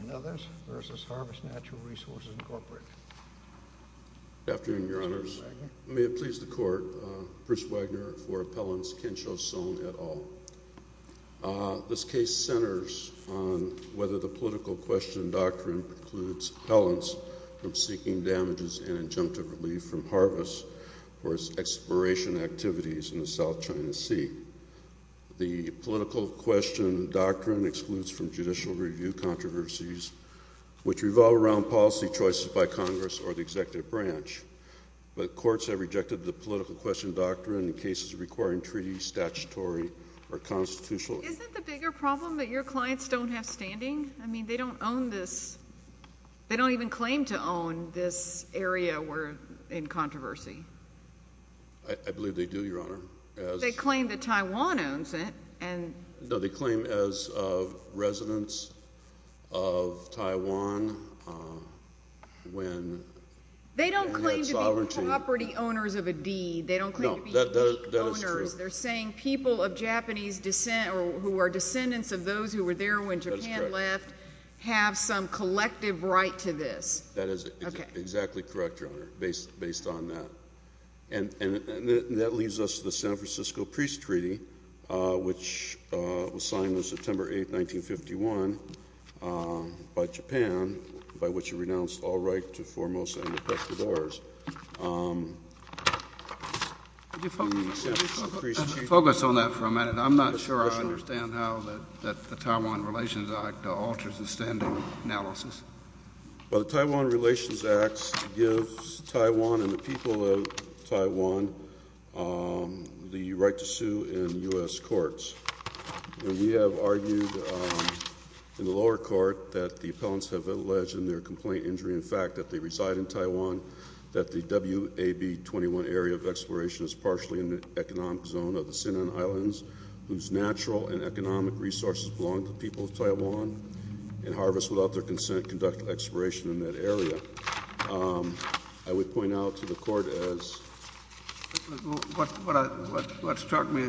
and others v. Harvest Natural Resources Incorporated. Good afternoon, your honors. May it please the court, Bruce Wagner for appellants Kensho Sone et al. This case centers on whether the seeking damages and injunctive relief from Harvest for its exploration activities in the South China Sea. The political question doctrine excludes from judicial review controversies which revolve around policy choices by Congress or the executive branch, but courts have rejected the political question doctrine in cases requiring treaty, statutory, or constitutional. Isn't the bigger problem that your clients don't have standing? I mean, they don't own this. They don't even claim to own this area we're in controversy. I believe they do, your honor. They claim that Taiwan owns it. No, they claim as of residents of Taiwan when they don't claim to be property owners of a deed. They don't claim to be owners. They're saying people of Japanese That is exactly correct, your honor, based on that. And that leads us to the San Francisco Priest Treaty, which was signed on September 8, 1951, by Japan, by which it renounced all right to foremost and the best of ours. Could you focus on that for a minute? I'm not sure I understand how that the Taiwan Relations Act alters the standing analysis. Well, the Taiwan Relations Act gives Taiwan and the people of Taiwan the right to sue in U.S. courts. We have argued in the lower court that the appellants have alleged in their complaint injury in fact that they reside in Taiwan, that the WAB 21 area of exploration is partially in the economic zone of the Sinan Islands, whose natural and economic resources belong to the people of Taiwan and harvest without their consent conduct exploration in that area. I would point out to the court as what struck me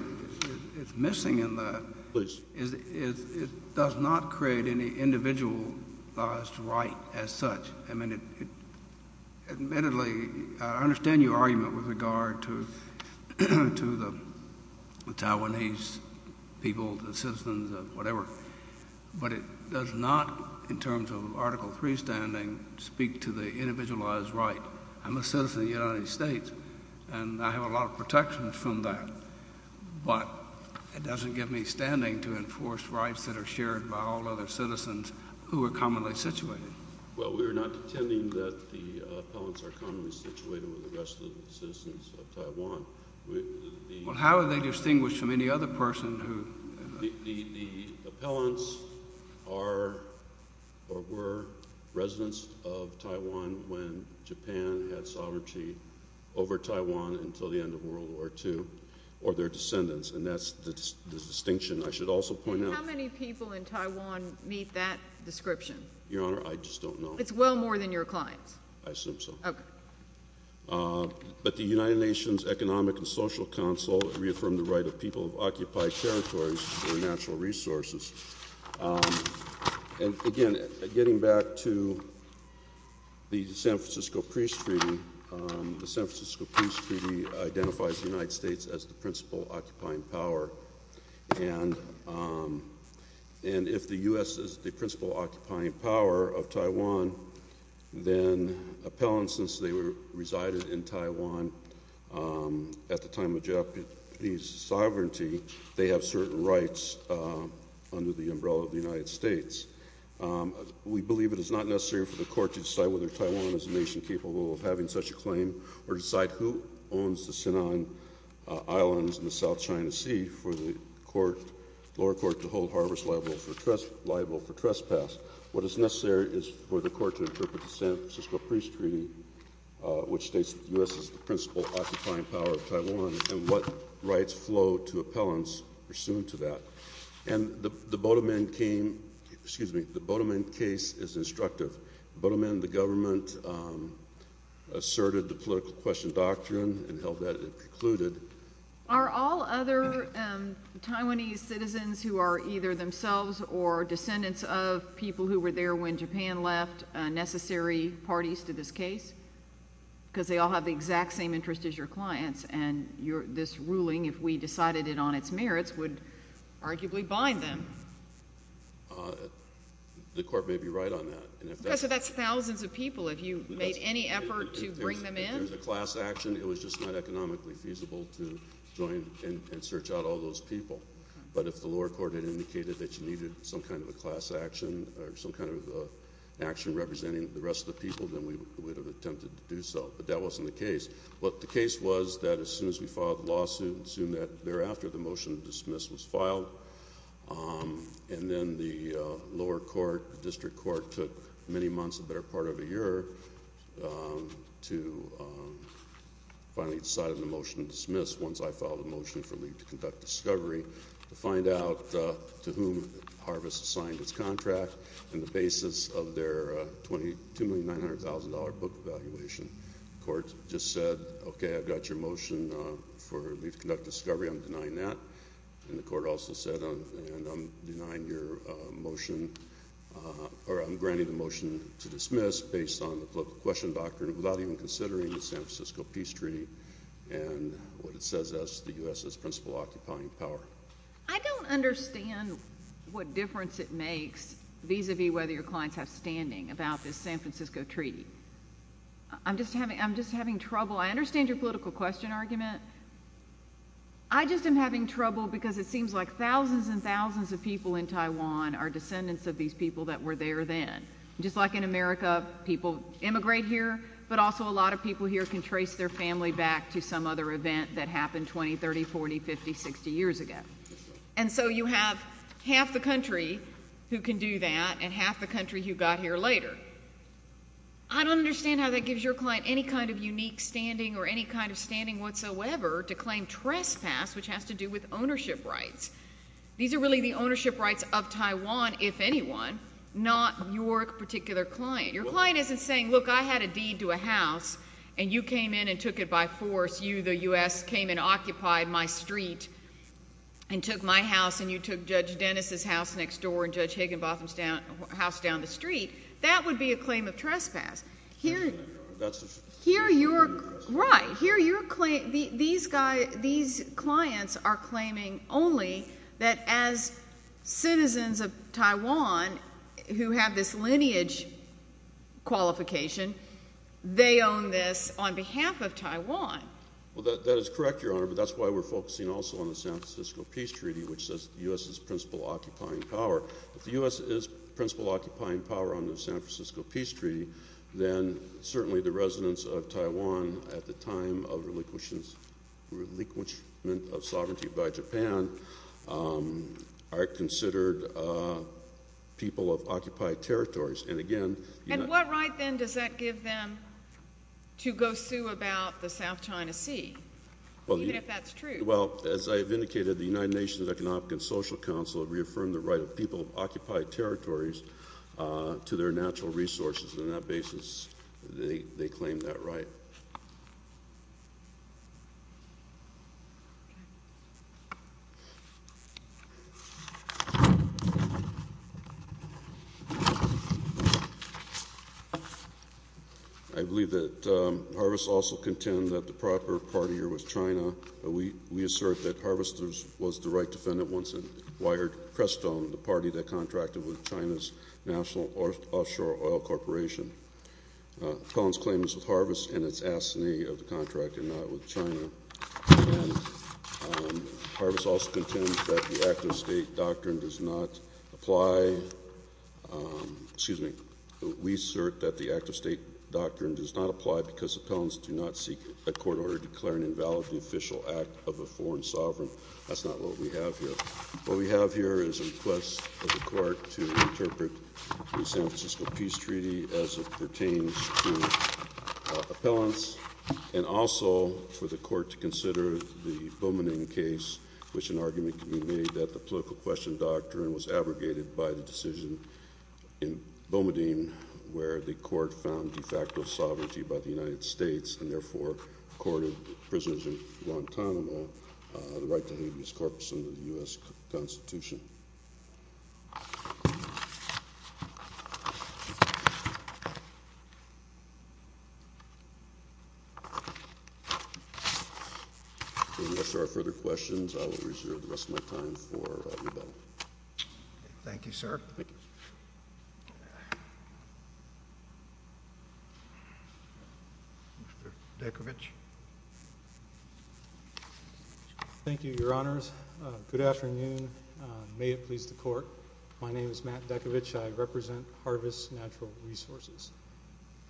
is missing in that is it does not create any individualized right as such. I mean, admittedly, I understand your argument with respect to the Taiwanese people, the citizens, whatever. But it does not, in terms of Article III standing, speak to the individualized right. I'm a citizen of the United States, and I have a lot of protections from that. But it doesn't give me standing to enforce rights that are shared by all other citizens who are commonly situated. Well, we are not Well, how are they distinguished from any other person who The appellants are or were residents of Taiwan when Japan had sovereignty over Taiwan until the end of World War II, or their descendants. And that's the distinction I should also point out. And how many people in Taiwan meet that description? Your Honor, I just don't know. It's well more than your clients. I assume so. But the United Nations Economic and Social Council reaffirmed the right of people of occupied territories for natural resources. And again, getting back to the San Francisco Peace Treaty, the San Francisco Peace Treaty identifies the United States as the principal occupying power. And if the U.S. is the principal occupying power of Taiwan, then appellants, since they resided in Taiwan at the time of Japanese sovereignty, they have certain rights under the umbrella of the United States. We believe it is not necessary for the court to decide whether Taiwan is a nation capable of having such a claim or decide who owns the Sinan Islands and the South China Sea for the lower court to hold harbors liable for trespass. What is necessary is for the court to interpret the San Francisco Peace Treaty, which states that the U.S. is the principal occupying power of Taiwan, and what rights flow to appellants pursuant to that. And the Bodomen case is instructive. The Bodomen, the government, asserted the political question doctrine and Are all other Taiwanese citizens who are either themselves or descendants of people who were there when Japan left necessary parties to this case? Because they all have the exact same interest as your clients, and this ruling, if we decided it on its merits, would arguably bind them. The court may be right on that. Okay, so that's thousands of people. If you join and search out all those people, but if the lower court had indicated that you needed some kind of a class action or some kind of action representing the rest of the people, then we would have attempted to do so. But that wasn't the case. What the case was that as soon as we filed the lawsuit, soon thereafter the motion to dismiss was filed, and then the lower court, district court, took many months, a better part of a year, to finally decide on the motion to dismiss once I filed a motion for leave to conduct discovery to find out to whom Harvest signed its contract and the basis of their $2,900,000 book evaluation. The court just said, okay, I've got your motion for leave to conduct discovery. I'm denying that. And the court also said, and I'm denying your motion to dismiss based on the political question doctrine without even considering the San Francisco Peace Treaty and what it says as the U.S.'s principal occupying power. I don't understand what difference it makes vis-a-vis whether your clients have standing about this San Francisco Treaty. I'm just having trouble. I understand your political question argument. I just am having trouble because it seems like thousands and thousands of people in Taiwan are descendants of these people that were there then. Just like in America, people immigrate here, but also a lot of people here can trace their family back to some other event that happened 20, 30, 40, 50, 60 years ago. And so you have half the country who can do that and half the country who got here later. I don't understand how that gives your client any kind of unique standing or any kind of standing whatsoever to claim trespass, which has to do with ownership rights. These are really the ownership rights of Taiwan, if anyone, not your particular client. Your client isn't saying, look, I had a deed to a house, and you came in and took it by force. You, the U.S., came and occupied my street and took my house, and you took Judge Dennis' house next door and Judge Higginbotham's house down the street. That would be a claim of trespass. Right. These clients are claiming only that as citizens of Taiwan who have this lineage qualification, they own this on behalf of Taiwan. Well, that is correct, Your Honor, but that's why we're focusing also on the San Francisco Peace Treaty, which says the U.S. is principal occupying power. If the U.S. is principal occupying power on the San Francisco Peace Treaty, then certainly the residents of Taiwan at the time of relinquishment of sovereignty by Japan are considered people of occupied territories. And again, the United Nations— And what right, then, does that give them to go sue about the South China Sea, even if that's true? Well, as I have indicated, the United Nations Economic and Social Council reaffirmed the to their natural resources, and on that basis, they claim that right. I believe that Harvest also contend that the proper party here was China, but we assert that Harvester's was the right defendant once it wired Preston, the party that contracted with China's National Offshore Oil Corporation. Appellant's claim is with Harvest and it's asinine of the contractor, not with China. And Harvest also contends that the Act of State doctrine does not apply—excuse me, we assert that the Act of State doctrine does not apply because appellants do not seek a court order declaring invalid the official act of a foreign sovereign. That's not what we have here. What we have here is a request of the court to interpret the San Francisco Peace Treaty as it pertains to appellants, and also for the court to consider the Boumediene case, which an argument can be made that the political question doctrine was abrogated by the decision in Boumediene, where the court found de facto sovereignty by the United States, and therefore accorded prisoners in Guantanamo the right to have his corpse under the U.S. Constitution. If there are no further questions, I will reserve the rest of my time for rebuttal. Thank you, sir. Thank you. Mr. Dekovich. Thank you, Your Honors. Good afternoon. May it please the Court. My name is Matt Dekovich. I represent Harvest Natural Resources.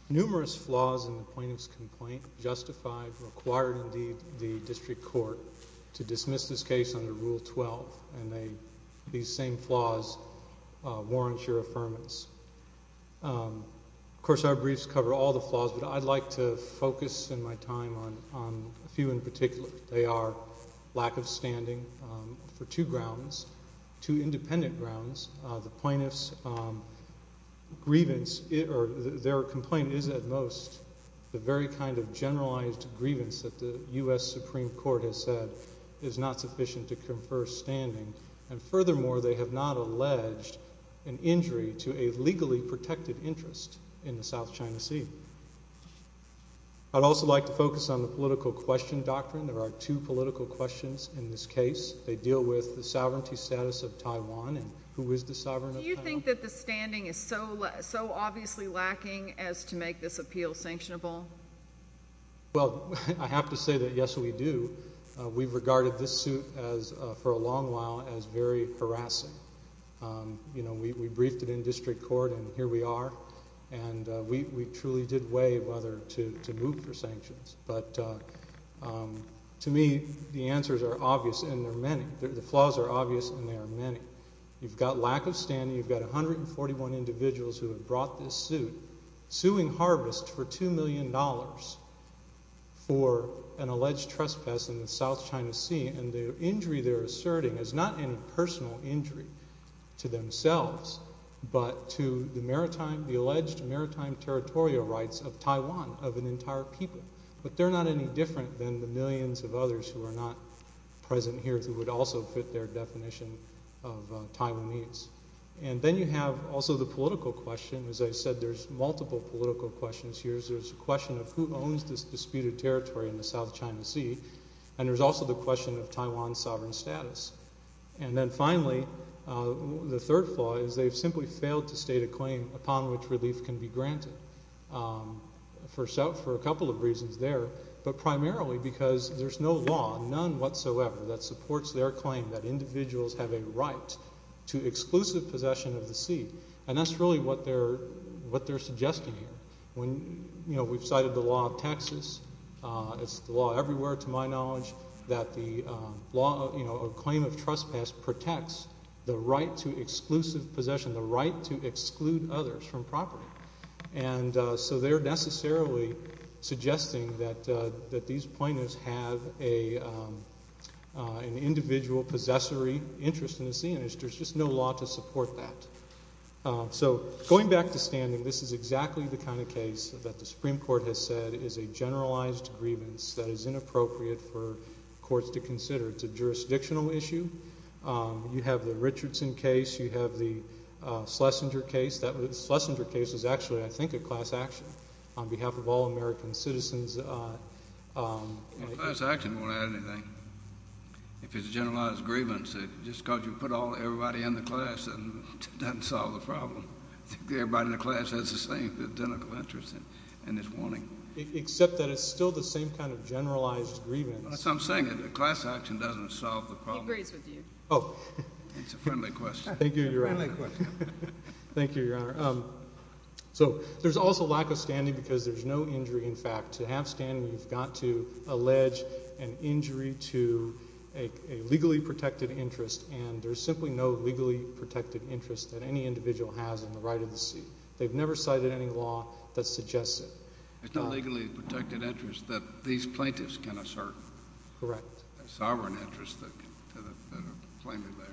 Numerous flaws in the plaintiff's complaint justified, required, indeed, the district court to dismiss this case under Rule 12, and these same flaws warrant your affirmance. Of course, our briefs cover all the flaws, but I'd like to focus in my time on a few in particular. They are lack of standing for two grounds, two independent grounds. The plaintiff's grievance, or their complaint is at most the very kind of generalized grievance that the U.S. Supreme Court has said is not sufficient to confer standing. And furthermore, they have not alleged an injury to a legally protected interest in the South China Sea. I'd also like to focus on the political question doctrine. There are two political questions in this case. They deal with the sovereignty status of Taiwan and who is the sovereign of Taiwan. Do you think that the standing is so obviously lacking as to make this appeal sanctionable? Well, I have to say that yes, we do. We've regarded this suit for a long while as very harassing. You know, we briefed it in district court, and here we are. And we truly did weigh whether to move for sanctions. But to me, the answers are obvious, and there are many. The flaws are obvious, and there are many. You've got lack of standing. You've got 141 million dollars for an alleged trespass in the South China Sea. And the injury they're asserting is not any personal injury to themselves, but to the maritime, the alleged maritime territorial rights of Taiwan, of an entire people. But they're not any different than the millions of others who are not present here who would also fit their definition of Taiwan needs. And then you have also the political question. As I said, there's multiple political questions here. There's a question of who owns this disputed territory in the South China Sea, and there's also the question of Taiwan's sovereign status. And then finally, the third flaw is they've simply failed to state a claim upon which relief can be granted, for a couple of reasons there, but primarily because there's no law, none whatsoever, that supports their claim that individuals have a right to exclusive possession of the When, you know, we've cited the law of Texas. It's the law everywhere, to my knowledge, that the law, you know, a claim of trespass protects the right to exclusive possession, the right to exclude others from property. And so they're necessarily suggesting that these plaintiffs have an individual possessory interest in the sea, and there's just no law to support that. So going back to standing, this is exactly the kind of case that the Supreme Court has said is a generalized grievance that is inappropriate for courts to consider. It's a jurisdictional issue. You have the Richardson case. You have the Schlesinger case. The Schlesinger case is actually, I think, a class action on behalf of all American citizens. A class action won't add anything. If it's a generalized grievance, it's just because you put everybody in the class, it doesn't solve the problem. Everybody in the class has the same, identical interest in this warning. Except that it's still the same kind of generalized grievance. That's what I'm saying. A class action doesn't solve the problem. He agrees with you. It's a friendly question. Thank you, Your Honor. It's a friendly question. There's simply no legally protected interest that any individual has in the right of the sea. They've never cited any law that suggests it. There's no legally protected interest that these plaintiffs can assert. Correct. A sovereign interest that can claim it there.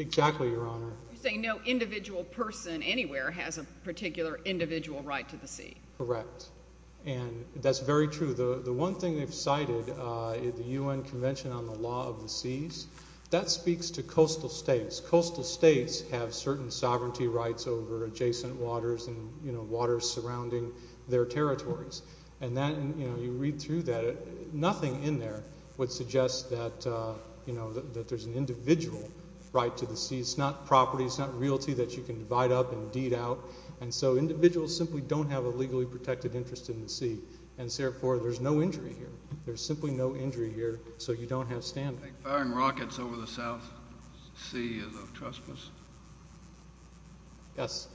Exactly, Your Honor. You're saying no individual person anywhere has a particular individual right to the sea. Correct. And that's very true. The one thing they've cited is the UN Convention on the Rights of Coastal States. Coastal states have certain sovereignty rights over adjacent waters and waters surrounding their territories. And you read through that, nothing in there would suggest that there's an individual right to the sea. It's not property, it's not realty that you can divide up and deed out. And so individuals simply don't have a legally protected interest in the sea. And therefore, there's no injury here. There's simply no injury here, so you don't have standing. Firing rockets over the South Sea is a trespass? Yes.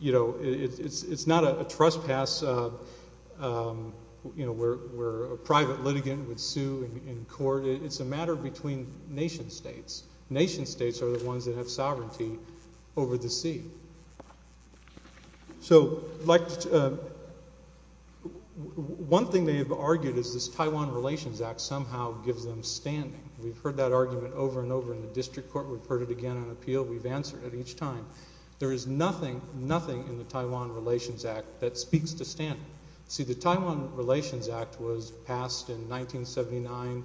It's not a trespass where a private litigant would sue in court. It's a matter between nation states. Nation states are the ones that have sovereignty over the sea. So, one thing they've argued is this Taiwan Relations Act somehow gives them standing. We've heard that argument over and over in the district court. We've heard it again on appeal. We've answered it each time. There is nothing, nothing in the Taiwan Relations Act that speaks to standing. See, the Taiwan Relations Act was passed in 1979,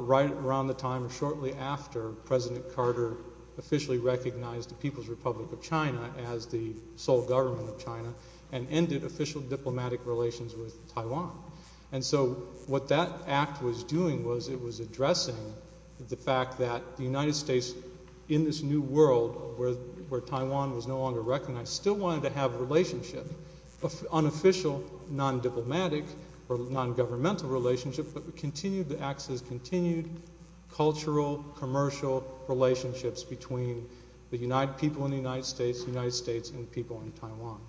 right around the time shortly after President Carter officially recognized the People's Republic of China as the sole government of China and ended official diplomatic relations with Taiwan. And so what that act was doing was it was addressing the fact that the United States in this new world where Taiwan was no longer recognized still wanted to have a relationship, unofficial, non-diplomatic, or non-governmental relationship, but continued, the act says continued cultural, commercial relationships between the people in the United States, the United States and the people in Taiwan.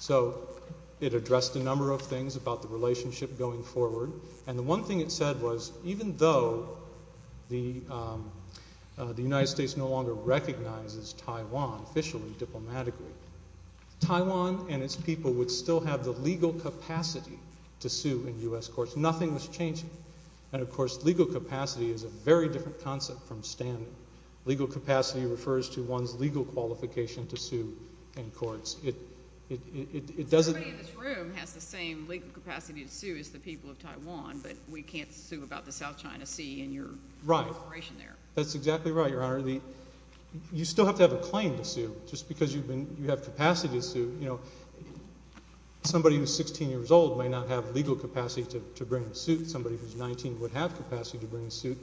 So, it addressed a number of things about the relationship going forward. And the one thing it said was even though the United States no longer recognizes Taiwan officially, diplomatically, Taiwan and its people would still have the same legal capacity. Legal capacity is a very different concept from standing. Legal capacity refers to one's legal qualification to sue in courts. It doesn't... Somebody in this room has the same legal capacity to sue as the people of Taiwan, but we can't sue about the South China Sea and your cooperation there. Right. That's exactly right, Your Honor. You still have to have a claim to sue. Just because you have capacity to sue, you know, somebody who's 16 years old may not have legal capacity to bring a suit. Somebody who's 19 would have capacity to bring a suit.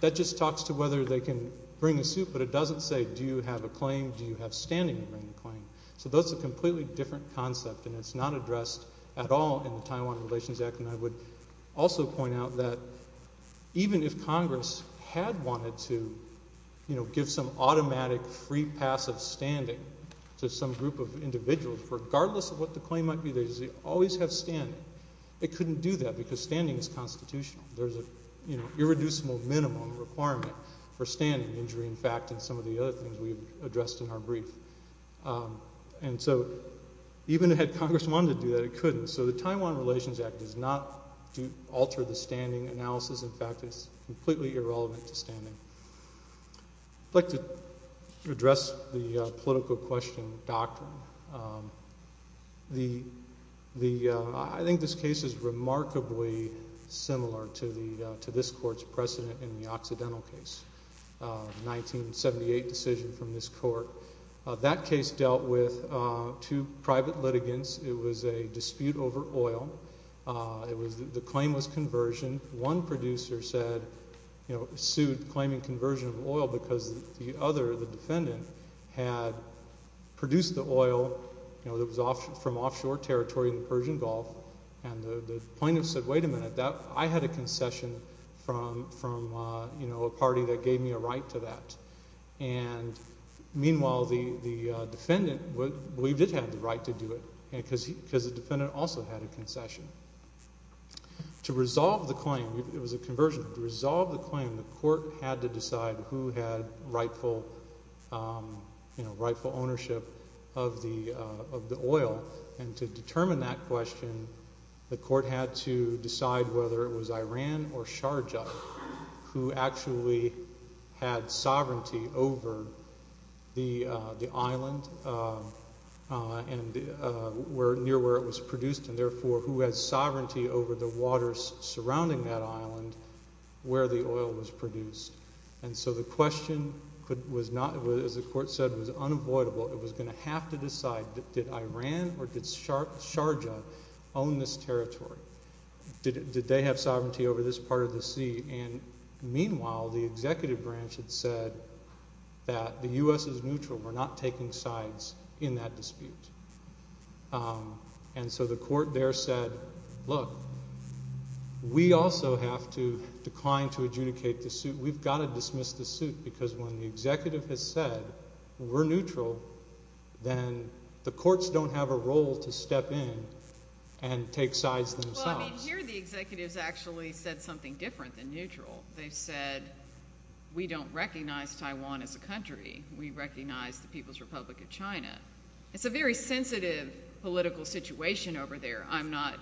That just talks to whether they can bring a suit, but it doesn't say do you have a claim, do you have standing to bring a claim. So, that's a completely different concept, and it's not addressed at all in the Taiwan Relations Act. And I would also point out that even if Congress had wanted to, you know, give some automatic free pass of standing to some group of individuals, regardless of what the claim might be, they would always have standing. They couldn't do that because standing is constitutional. There's an irreducible minimum requirement for standing injury, in fact, in some of the other things we've addressed in our brief. And so, even had Congress wanted to do that, it couldn't. So, the Taiwan Relations Act does not alter the standing analysis. In fact, it's completely irrelevant to standing. I'd like to address the political question doctrine. I think this case is remarkably similar to this court's precedent in the Occidental case, 1978 decision from this court. That case dealt with two private litigants. It was a dispute over oil. The claim was regarding conversion of oil because the other, the defendant, had produced the oil from offshore territory in the Persian Gulf, and the plaintiff said, wait a minute, I had a concession from a party that gave me a right to that. And meanwhile, the defendant believed it had the right to do it, because the defendant also had a concession. To resolve the claim, it had to decide who had rightful ownership of the oil. And to determine that question, the court had to decide whether it was Iran or Sharjah who actually had sovereignty over the island and near where it was produced, and therefore, who had sovereignty over the island. And so the question was not, as the court said, was unavoidable. It was going to have to decide, did Iran or did Sharjah own this territory? Did they have sovereignty over this part of the sea? And meanwhile, the executive branch had said that the U.S. is neutral. We're not taking sides in that dispute. And so the court there said, look, we also have to decline to adjudicate the suit. We've got to dismiss the suit, because when the executive has said, we're neutral, then the courts don't have a role to step in and take sides themselves. Well, I mean, here the executives actually said something different than neutral. They said, we don't recognize Taiwan as a country. We recognize the People's Republic of China. It's a very sensitive political situation over there. I'm not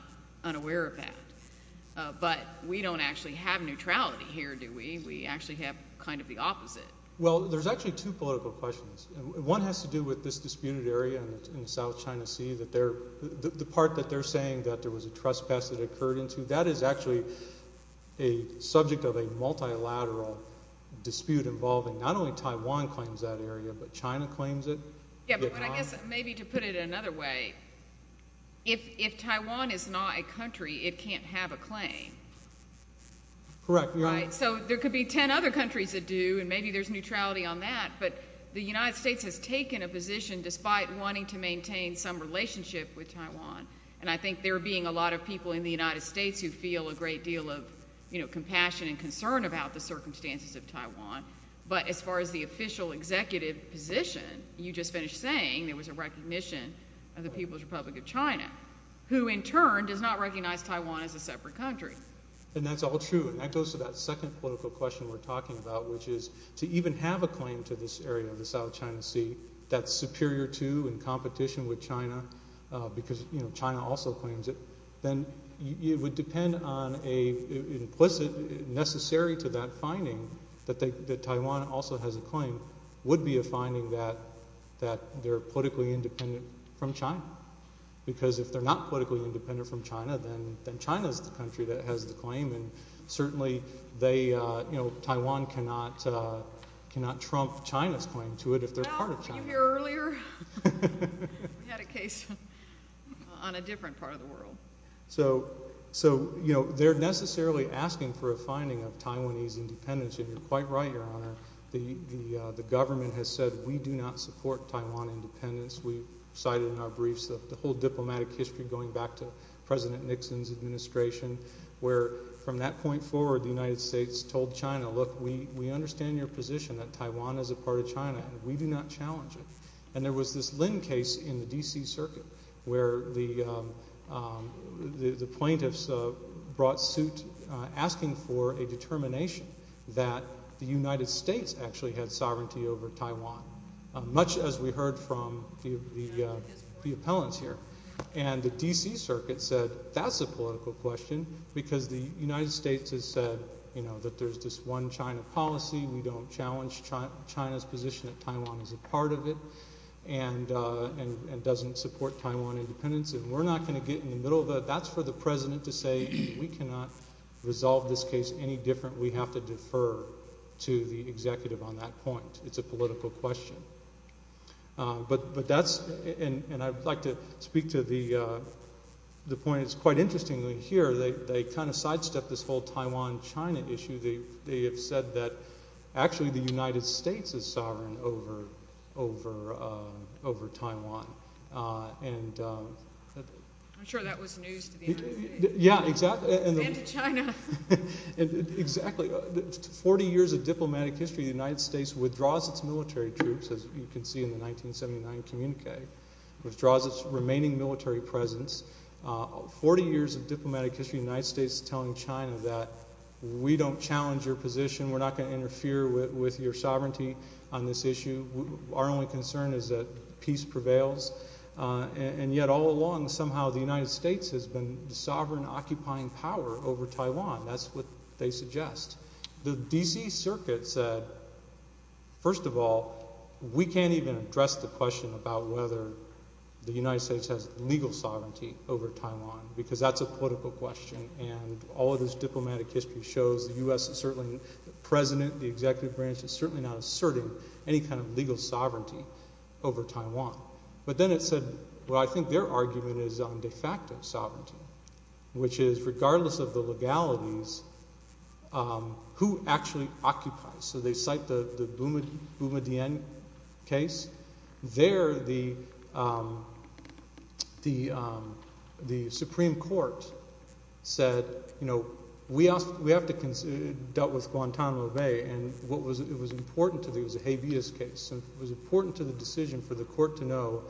unaware of that. But we don't actually have neutrality here, do we? We actually have kind of the opposite. Well, there's actually two political questions. One has to do with this disputed area in the South China Sea. The part that they're saying that there was a trespass that occurred into, that is actually a subject of a multilateral dispute involving not only Taiwan claims that Taiwan is not a country, it can't have a claim. Correct. So there could be 10 other countries that do, and maybe there's neutrality on that. But the United States has taken a position, despite wanting to maintain some relationship with Taiwan. And I think there being a lot of people in the United States who feel a great deal of compassion and concern about the circumstances of Taiwan. But as far as the official executive position, you just finished saying there was a recognition of the People's Republic of China, who in turn does not recognize Taiwan as a separate country. And that's all true. And that goes to that second political question we're talking about, which is to even have a claim to this area of the South China Sea that's superior to and competition with China, because China also claims it, then it would depend on an implicit, necessary to that finding, that Taiwan also has a claim, would be a finding that they're politically independent from China. Because if they're not politically independent from China, then China's the country that has the claim, and certainly they, you know, Taiwan cannot trump China's claim to it if they're part of China. Well, you hear earlier, we had a case on a different part of the world. So, you know, they're necessarily asking for a finding of Taiwanese independence, and you're quite right, Your Honor. The government has said we do not support Taiwan independence. We've cited in our briefs the whole diplomatic history going back to President Nixon's administration, where from that point forward, the United States told China, look, we understand your position that Taiwan is a part of China, and we do not challenge it. And there was this Lin case in the D.C. Circuit where the plaintiffs brought suit asking for a determination that the United States actually had sovereignty over Taiwan, much as we heard from the appellants here. And the D.C. Circuit said that's a political question, because the United States has said, you know, that there's this one China policy, we don't challenge China's position that Taiwan is a part of it, and doesn't support Taiwan independence. And we're not going to get in the middle of that. That's for the President to say, we cannot resolve this case any different. We have to defer to the executive on that point. It's a political question. But that's, and I'd like to speak to the point that's quite interesting here. They kind of sidestepped this whole Taiwan-China issue. They have said that actually the United States is sovereign over Taiwan. And... I'm sure that was news to the United States. Yeah, exactly. And to China. Exactly. Forty years of diplomatic history, the United States withdraws its military troops, as you can see in the 1979 communique, withdraws its remaining military presence. Forty years of diplomatic history, the United States telling China that we don't challenge your position, we're not going to interfere with your sovereignty on this issue. Our only concern is that peace prevails. And yet all along, somehow the United States has been the sovereign occupying power over Taiwan. That's what they suggest. The D.C. Circuit said, first of all, we can't even address the question about whether the United States has legal sovereignty over Taiwan, because that's a political question. And all of this diplomatic history shows the U.S. is certainly, the president, the executive branch, is certainly not asserting any kind of legal sovereignty over Taiwan. But then it said, well, I think their argument is on de facto sovereignty, which is regardless of the legalities, who has the right to do so. The Supreme Court said, you know, we have to deal with Guantanamo Bay, and it was important to the, it was a habeas case, and it was important to the decision for the court to know,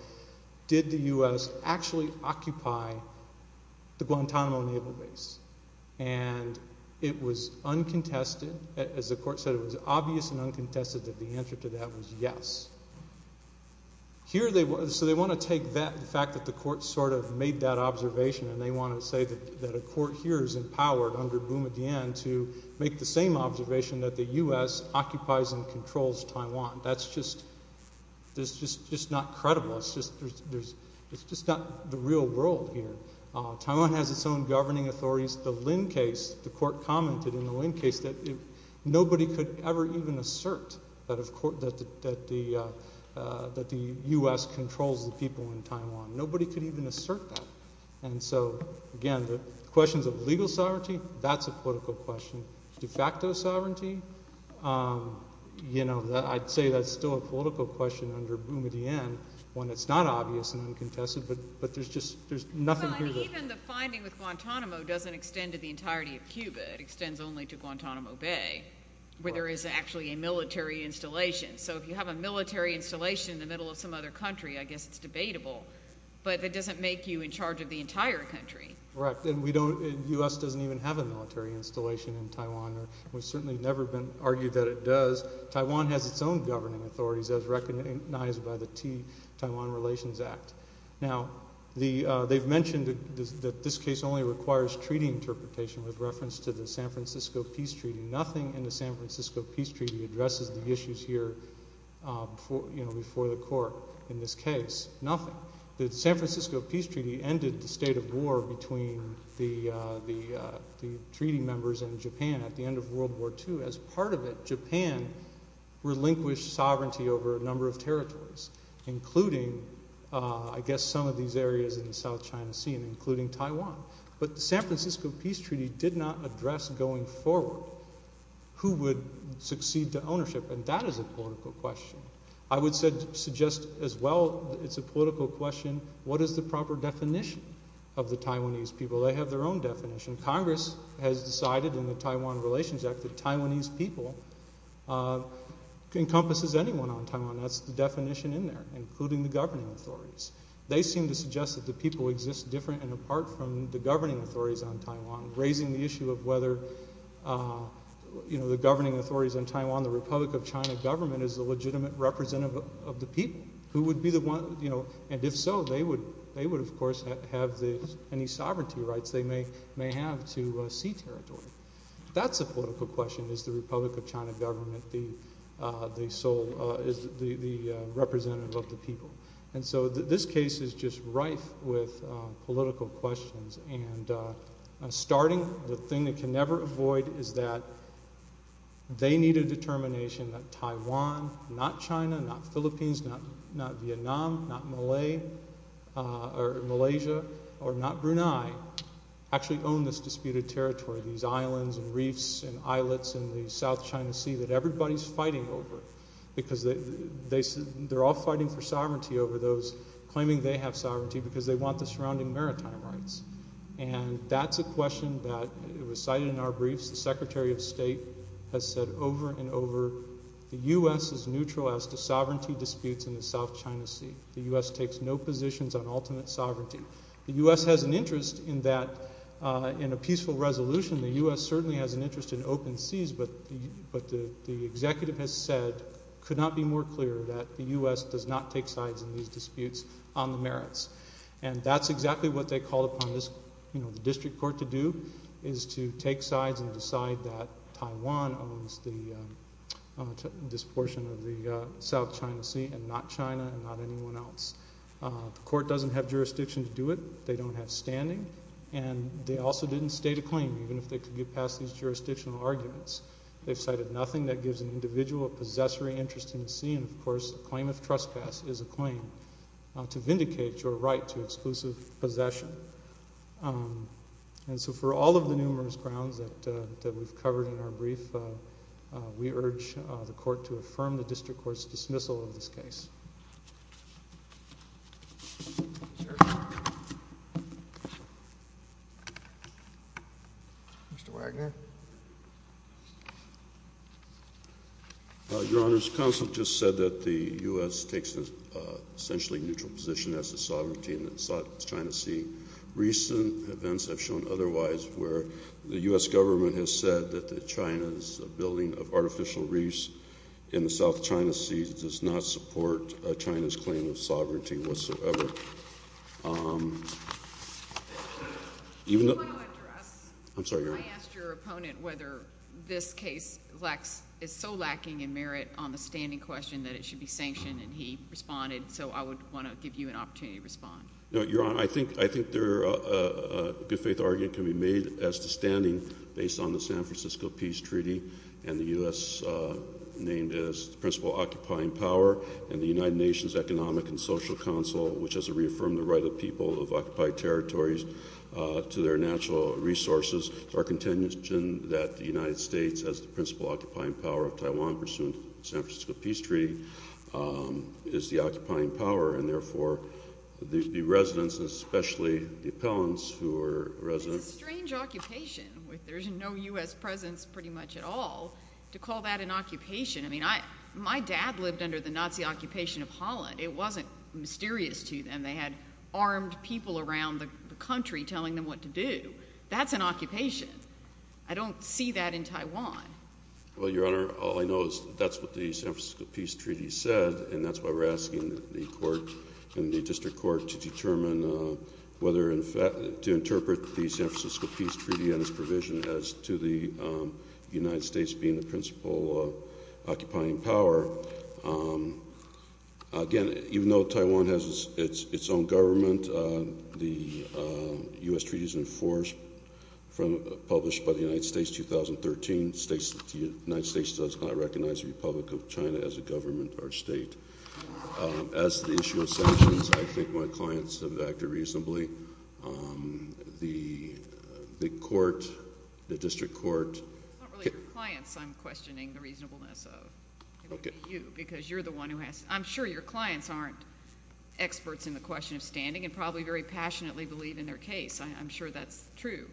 did the U.S. actually occupy the Guantanamo Naval Base? And it was uncontested, as the court said, it was obvious and uncontested that the answer to that was yes. Here they, so they want to take that, the fact that the court sort of made that observation, and they want to say that a court here is empowered under Boumediene to make the same observation that the U.S. occupies and controls Taiwan. That's just, that's just not credible. It's just, there's, it's just not the real world here. Taiwan has its own governing authorities. The Lin case, the court commented in the Lin case that nobody could ever even assert that the U.S. controls the people in Taiwan. Nobody could even assert that. And so, again, the questions of legal sovereignty, that's a political question. De facto sovereignty, you know, I'd say that's still a political question under Boumediene when it's not obvious and uncontested, but there's just, there's nothing here that... Well, and even the finding with Guantanamo doesn't extend to the entirety of Cuba. It never is actually a military installation. So if you have a military installation in the middle of some other country, I guess it's debatable, but it doesn't make you in charge of the entire country. Correct. And we don't, the U.S. doesn't even have a military installation in Taiwan, or it's certainly never been argued that it does. Taiwan has its own governing authorities, as recognized by the T-Taiwan Relations Act. Now, the, they've mentioned that this case only requires treaty interpretation with reference to the San Francisco Peace Treaty. Nothing in the San Francisco Peace Treaty addresses the issues here, you know, before the court in this case, nothing. The San Francisco Peace Treaty ended the state of war between the treaty members and Japan at the end of World War II. As part of it, Japan relinquished sovereignty over a number of territories, including, I guess, some of these areas in the South China Sea, including Taiwan. But the San Francisco Peace Treaty is a political question. It's a political question as to who would go forward, who would succeed to ownership, and that is a political question. I would suggest as well it's a political question, what is the proper definition of the Taiwanese people? They have their own definition. Congress has decided in the Taiwan Relations Act that Taiwanese people encompasses anyone on Taiwan. That's the definition in there, including the governing authorities on Taiwan, raising the issue of whether, you know, the governing authorities on Taiwan, the Republic of China government is a legitimate representative of the people. Who would be the one, you know, and if so, they would of course have any sovereignty rights they may have to sea territory. That's a political question. Is the Republic of China government the sole, is the representative of the people? And so this case is just rife with political questions. And starting, the thing that can never avoid is that they need a determination that Taiwan, not China, not Philippines, not Vietnam, not Malay, or Malaysia, or not Brunei, actually own this disputed territory, these islands and reefs and islets in the South China Sea that everybody's fighting over. Because they're all fighting for sovereignty over those claiming they have sovereignty because they want the surrounding maritime rights. And that's a question that was cited in our briefs. The Secretary of State has said over and over, the U.S. is neutral as to sovereignty disputes in the South China Sea. The U.S. takes no positions on ultimate sovereignty. The U.S. has an interest in that, in a peaceful resolution, the U.S. certainly has an interest in open seas, but the executive has said, could not be more clear that the U.S. does not take sides in these disputes on the merits. And that's exactly what they called upon the district court to do, is to take sides and decide that Taiwan owns this portion of the South China Sea and not China and not anyone else. The court doesn't have jurisdiction to do it. They don't have standing. And they also didn't state a claim, even if they could get past these jurisdictional arguments. They've cited nothing that gives an individual a possessory interest in the sea. And of course, a claim of trespass is a claim to vindicate your right to exclusive possession. And so for all of the numerous grounds that we've covered in our brief, we urge the court to affirm the district court's dismissal of this case. Mr. Wagner. Your Honor, counsel just said that the U.S. takes an essentially neutral position as to sovereignty in the South China Sea. Recent events have shown otherwise, where the U.S. government has said that China's building of artificial reefs in the South China Sea does not support China's claim of sovereignty whatsoever. I asked your opponent whether this case is so lacking in merit on the standing question that it should be sanctioned, and he responded. So I would want to give you an opportunity to respond. Your Honor, I think a good-faith argument can be made as to standing based on the San Francisco Peace Treaty and the U.S. named as the principal occupying power and the United Nations Economic and Social Council, which has reaffirmed the right of people of occupied territories to their natural resources. Our contention that the United States, as the principal occupying power of Taiwan pursuant to the San Francisco Peace Treaty, is the right of the residents, especially the appellants who are residents. It's a strange occupation. There's no U.S. presence pretty much at all to call that an occupation. I mean, my dad lived under the Nazi occupation of Holland. It wasn't mysterious to them. They had armed people around the country telling them what to do. That's an occupation. I don't see that in Taiwan. Well, Your Honor, all I know is that's what the San Francisco Peace Treaty said, and that's why we're asking the court and the district court to determine whether to interpret the San Francisco Peace Treaty and its provision as to the United States being the principal occupying power. Again, even though Taiwan has its own government, the U.S. treaty is enforced, published by the United States 2013, states that the United States does not recognize the Republic of China as a government or state. As to the issue of sanctions, I think my clients have acted reasonably. The court, the district court— It's not really your clients I'm questioning the reasonableness of. It would be you, because you're the one who has—I'm sure your clients aren't experts in the question of standing and probably very passionately believe in their case. I'm sure that's true.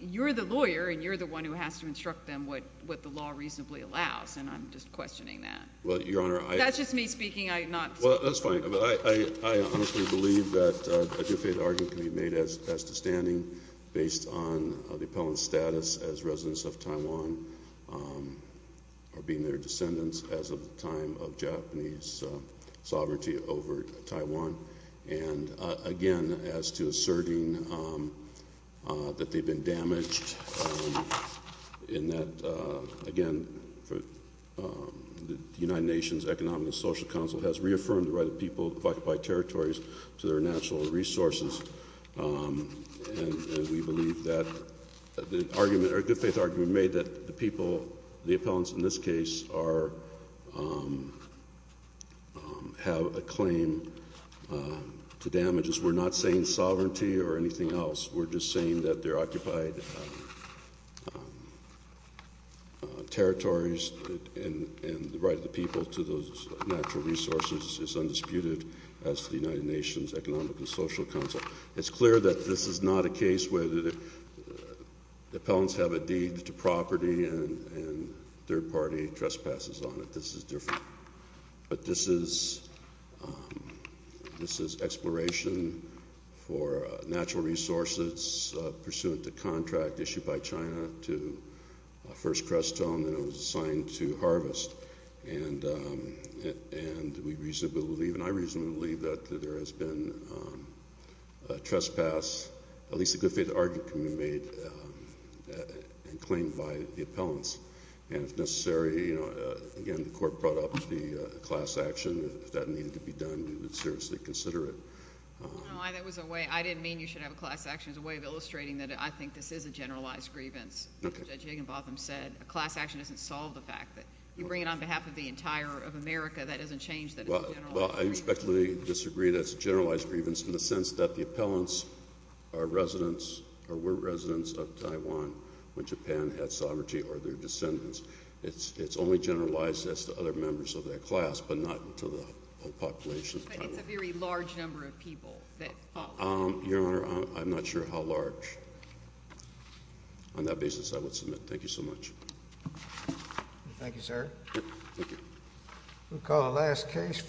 You're the lawyer, and you're the one who has to instruct them what the law reasonably allows, and I'm just questioning that. Well, Your Honor, I— That's just me speaking. I'm not— Well, that's fine. I honestly believe that a defaulted argument can be made as to standing based on the appellant's status as residents of Taiwan or being their descendants as of the time of Japanese sovereignty over Taiwan. And again, as to asserting that they've been damaged in that, again, the United Nations Economic and Social Council has reaffirmed the right of people to occupy territories to their natural resources, and we believe that the argument—or a good-faith argument made that the people, the appellants in this case, are—have a claim to damages. We're not saying sovereignty or anything else. We're just saying that their occupied territories and the right of the people to those natural resources is undisputed as to the United Nations Economic and Social Council. It's clear that this is not a case where the appellants have a deed to property and third-party trespasses on it. This is different. But this is exploration for natural resources pursuant to contract issued by China to First Crestone, and it was assigned to harvest. And we reasonably believe, and I reasonably believe, that there has been a trespass—at least a good-faith argument can be made and claimed by the appellants. And if necessary, you know, again, the Court brought up the class action. If that needed to be done, we would seriously consider it. No, that was a way—I didn't mean you should have a class action as a way of illustrating that I think this is a generalized grievance, as Judge Higginbotham said. A class action doesn't solve the fact that you bring it on behalf of the entire of America. That doesn't change that it's a generalized grievance. Well, I respectfully disagree that it's a of Taiwan when Japan had sovereignty over their descendants. It's only generalized as to other members of that class, but not to the whole population of Taiwan. But it's a very large number of people that follow. Your Honor, I'm not sure how large. On that basis, I would submit. Thank you so much. Thank you, sir. Thank you.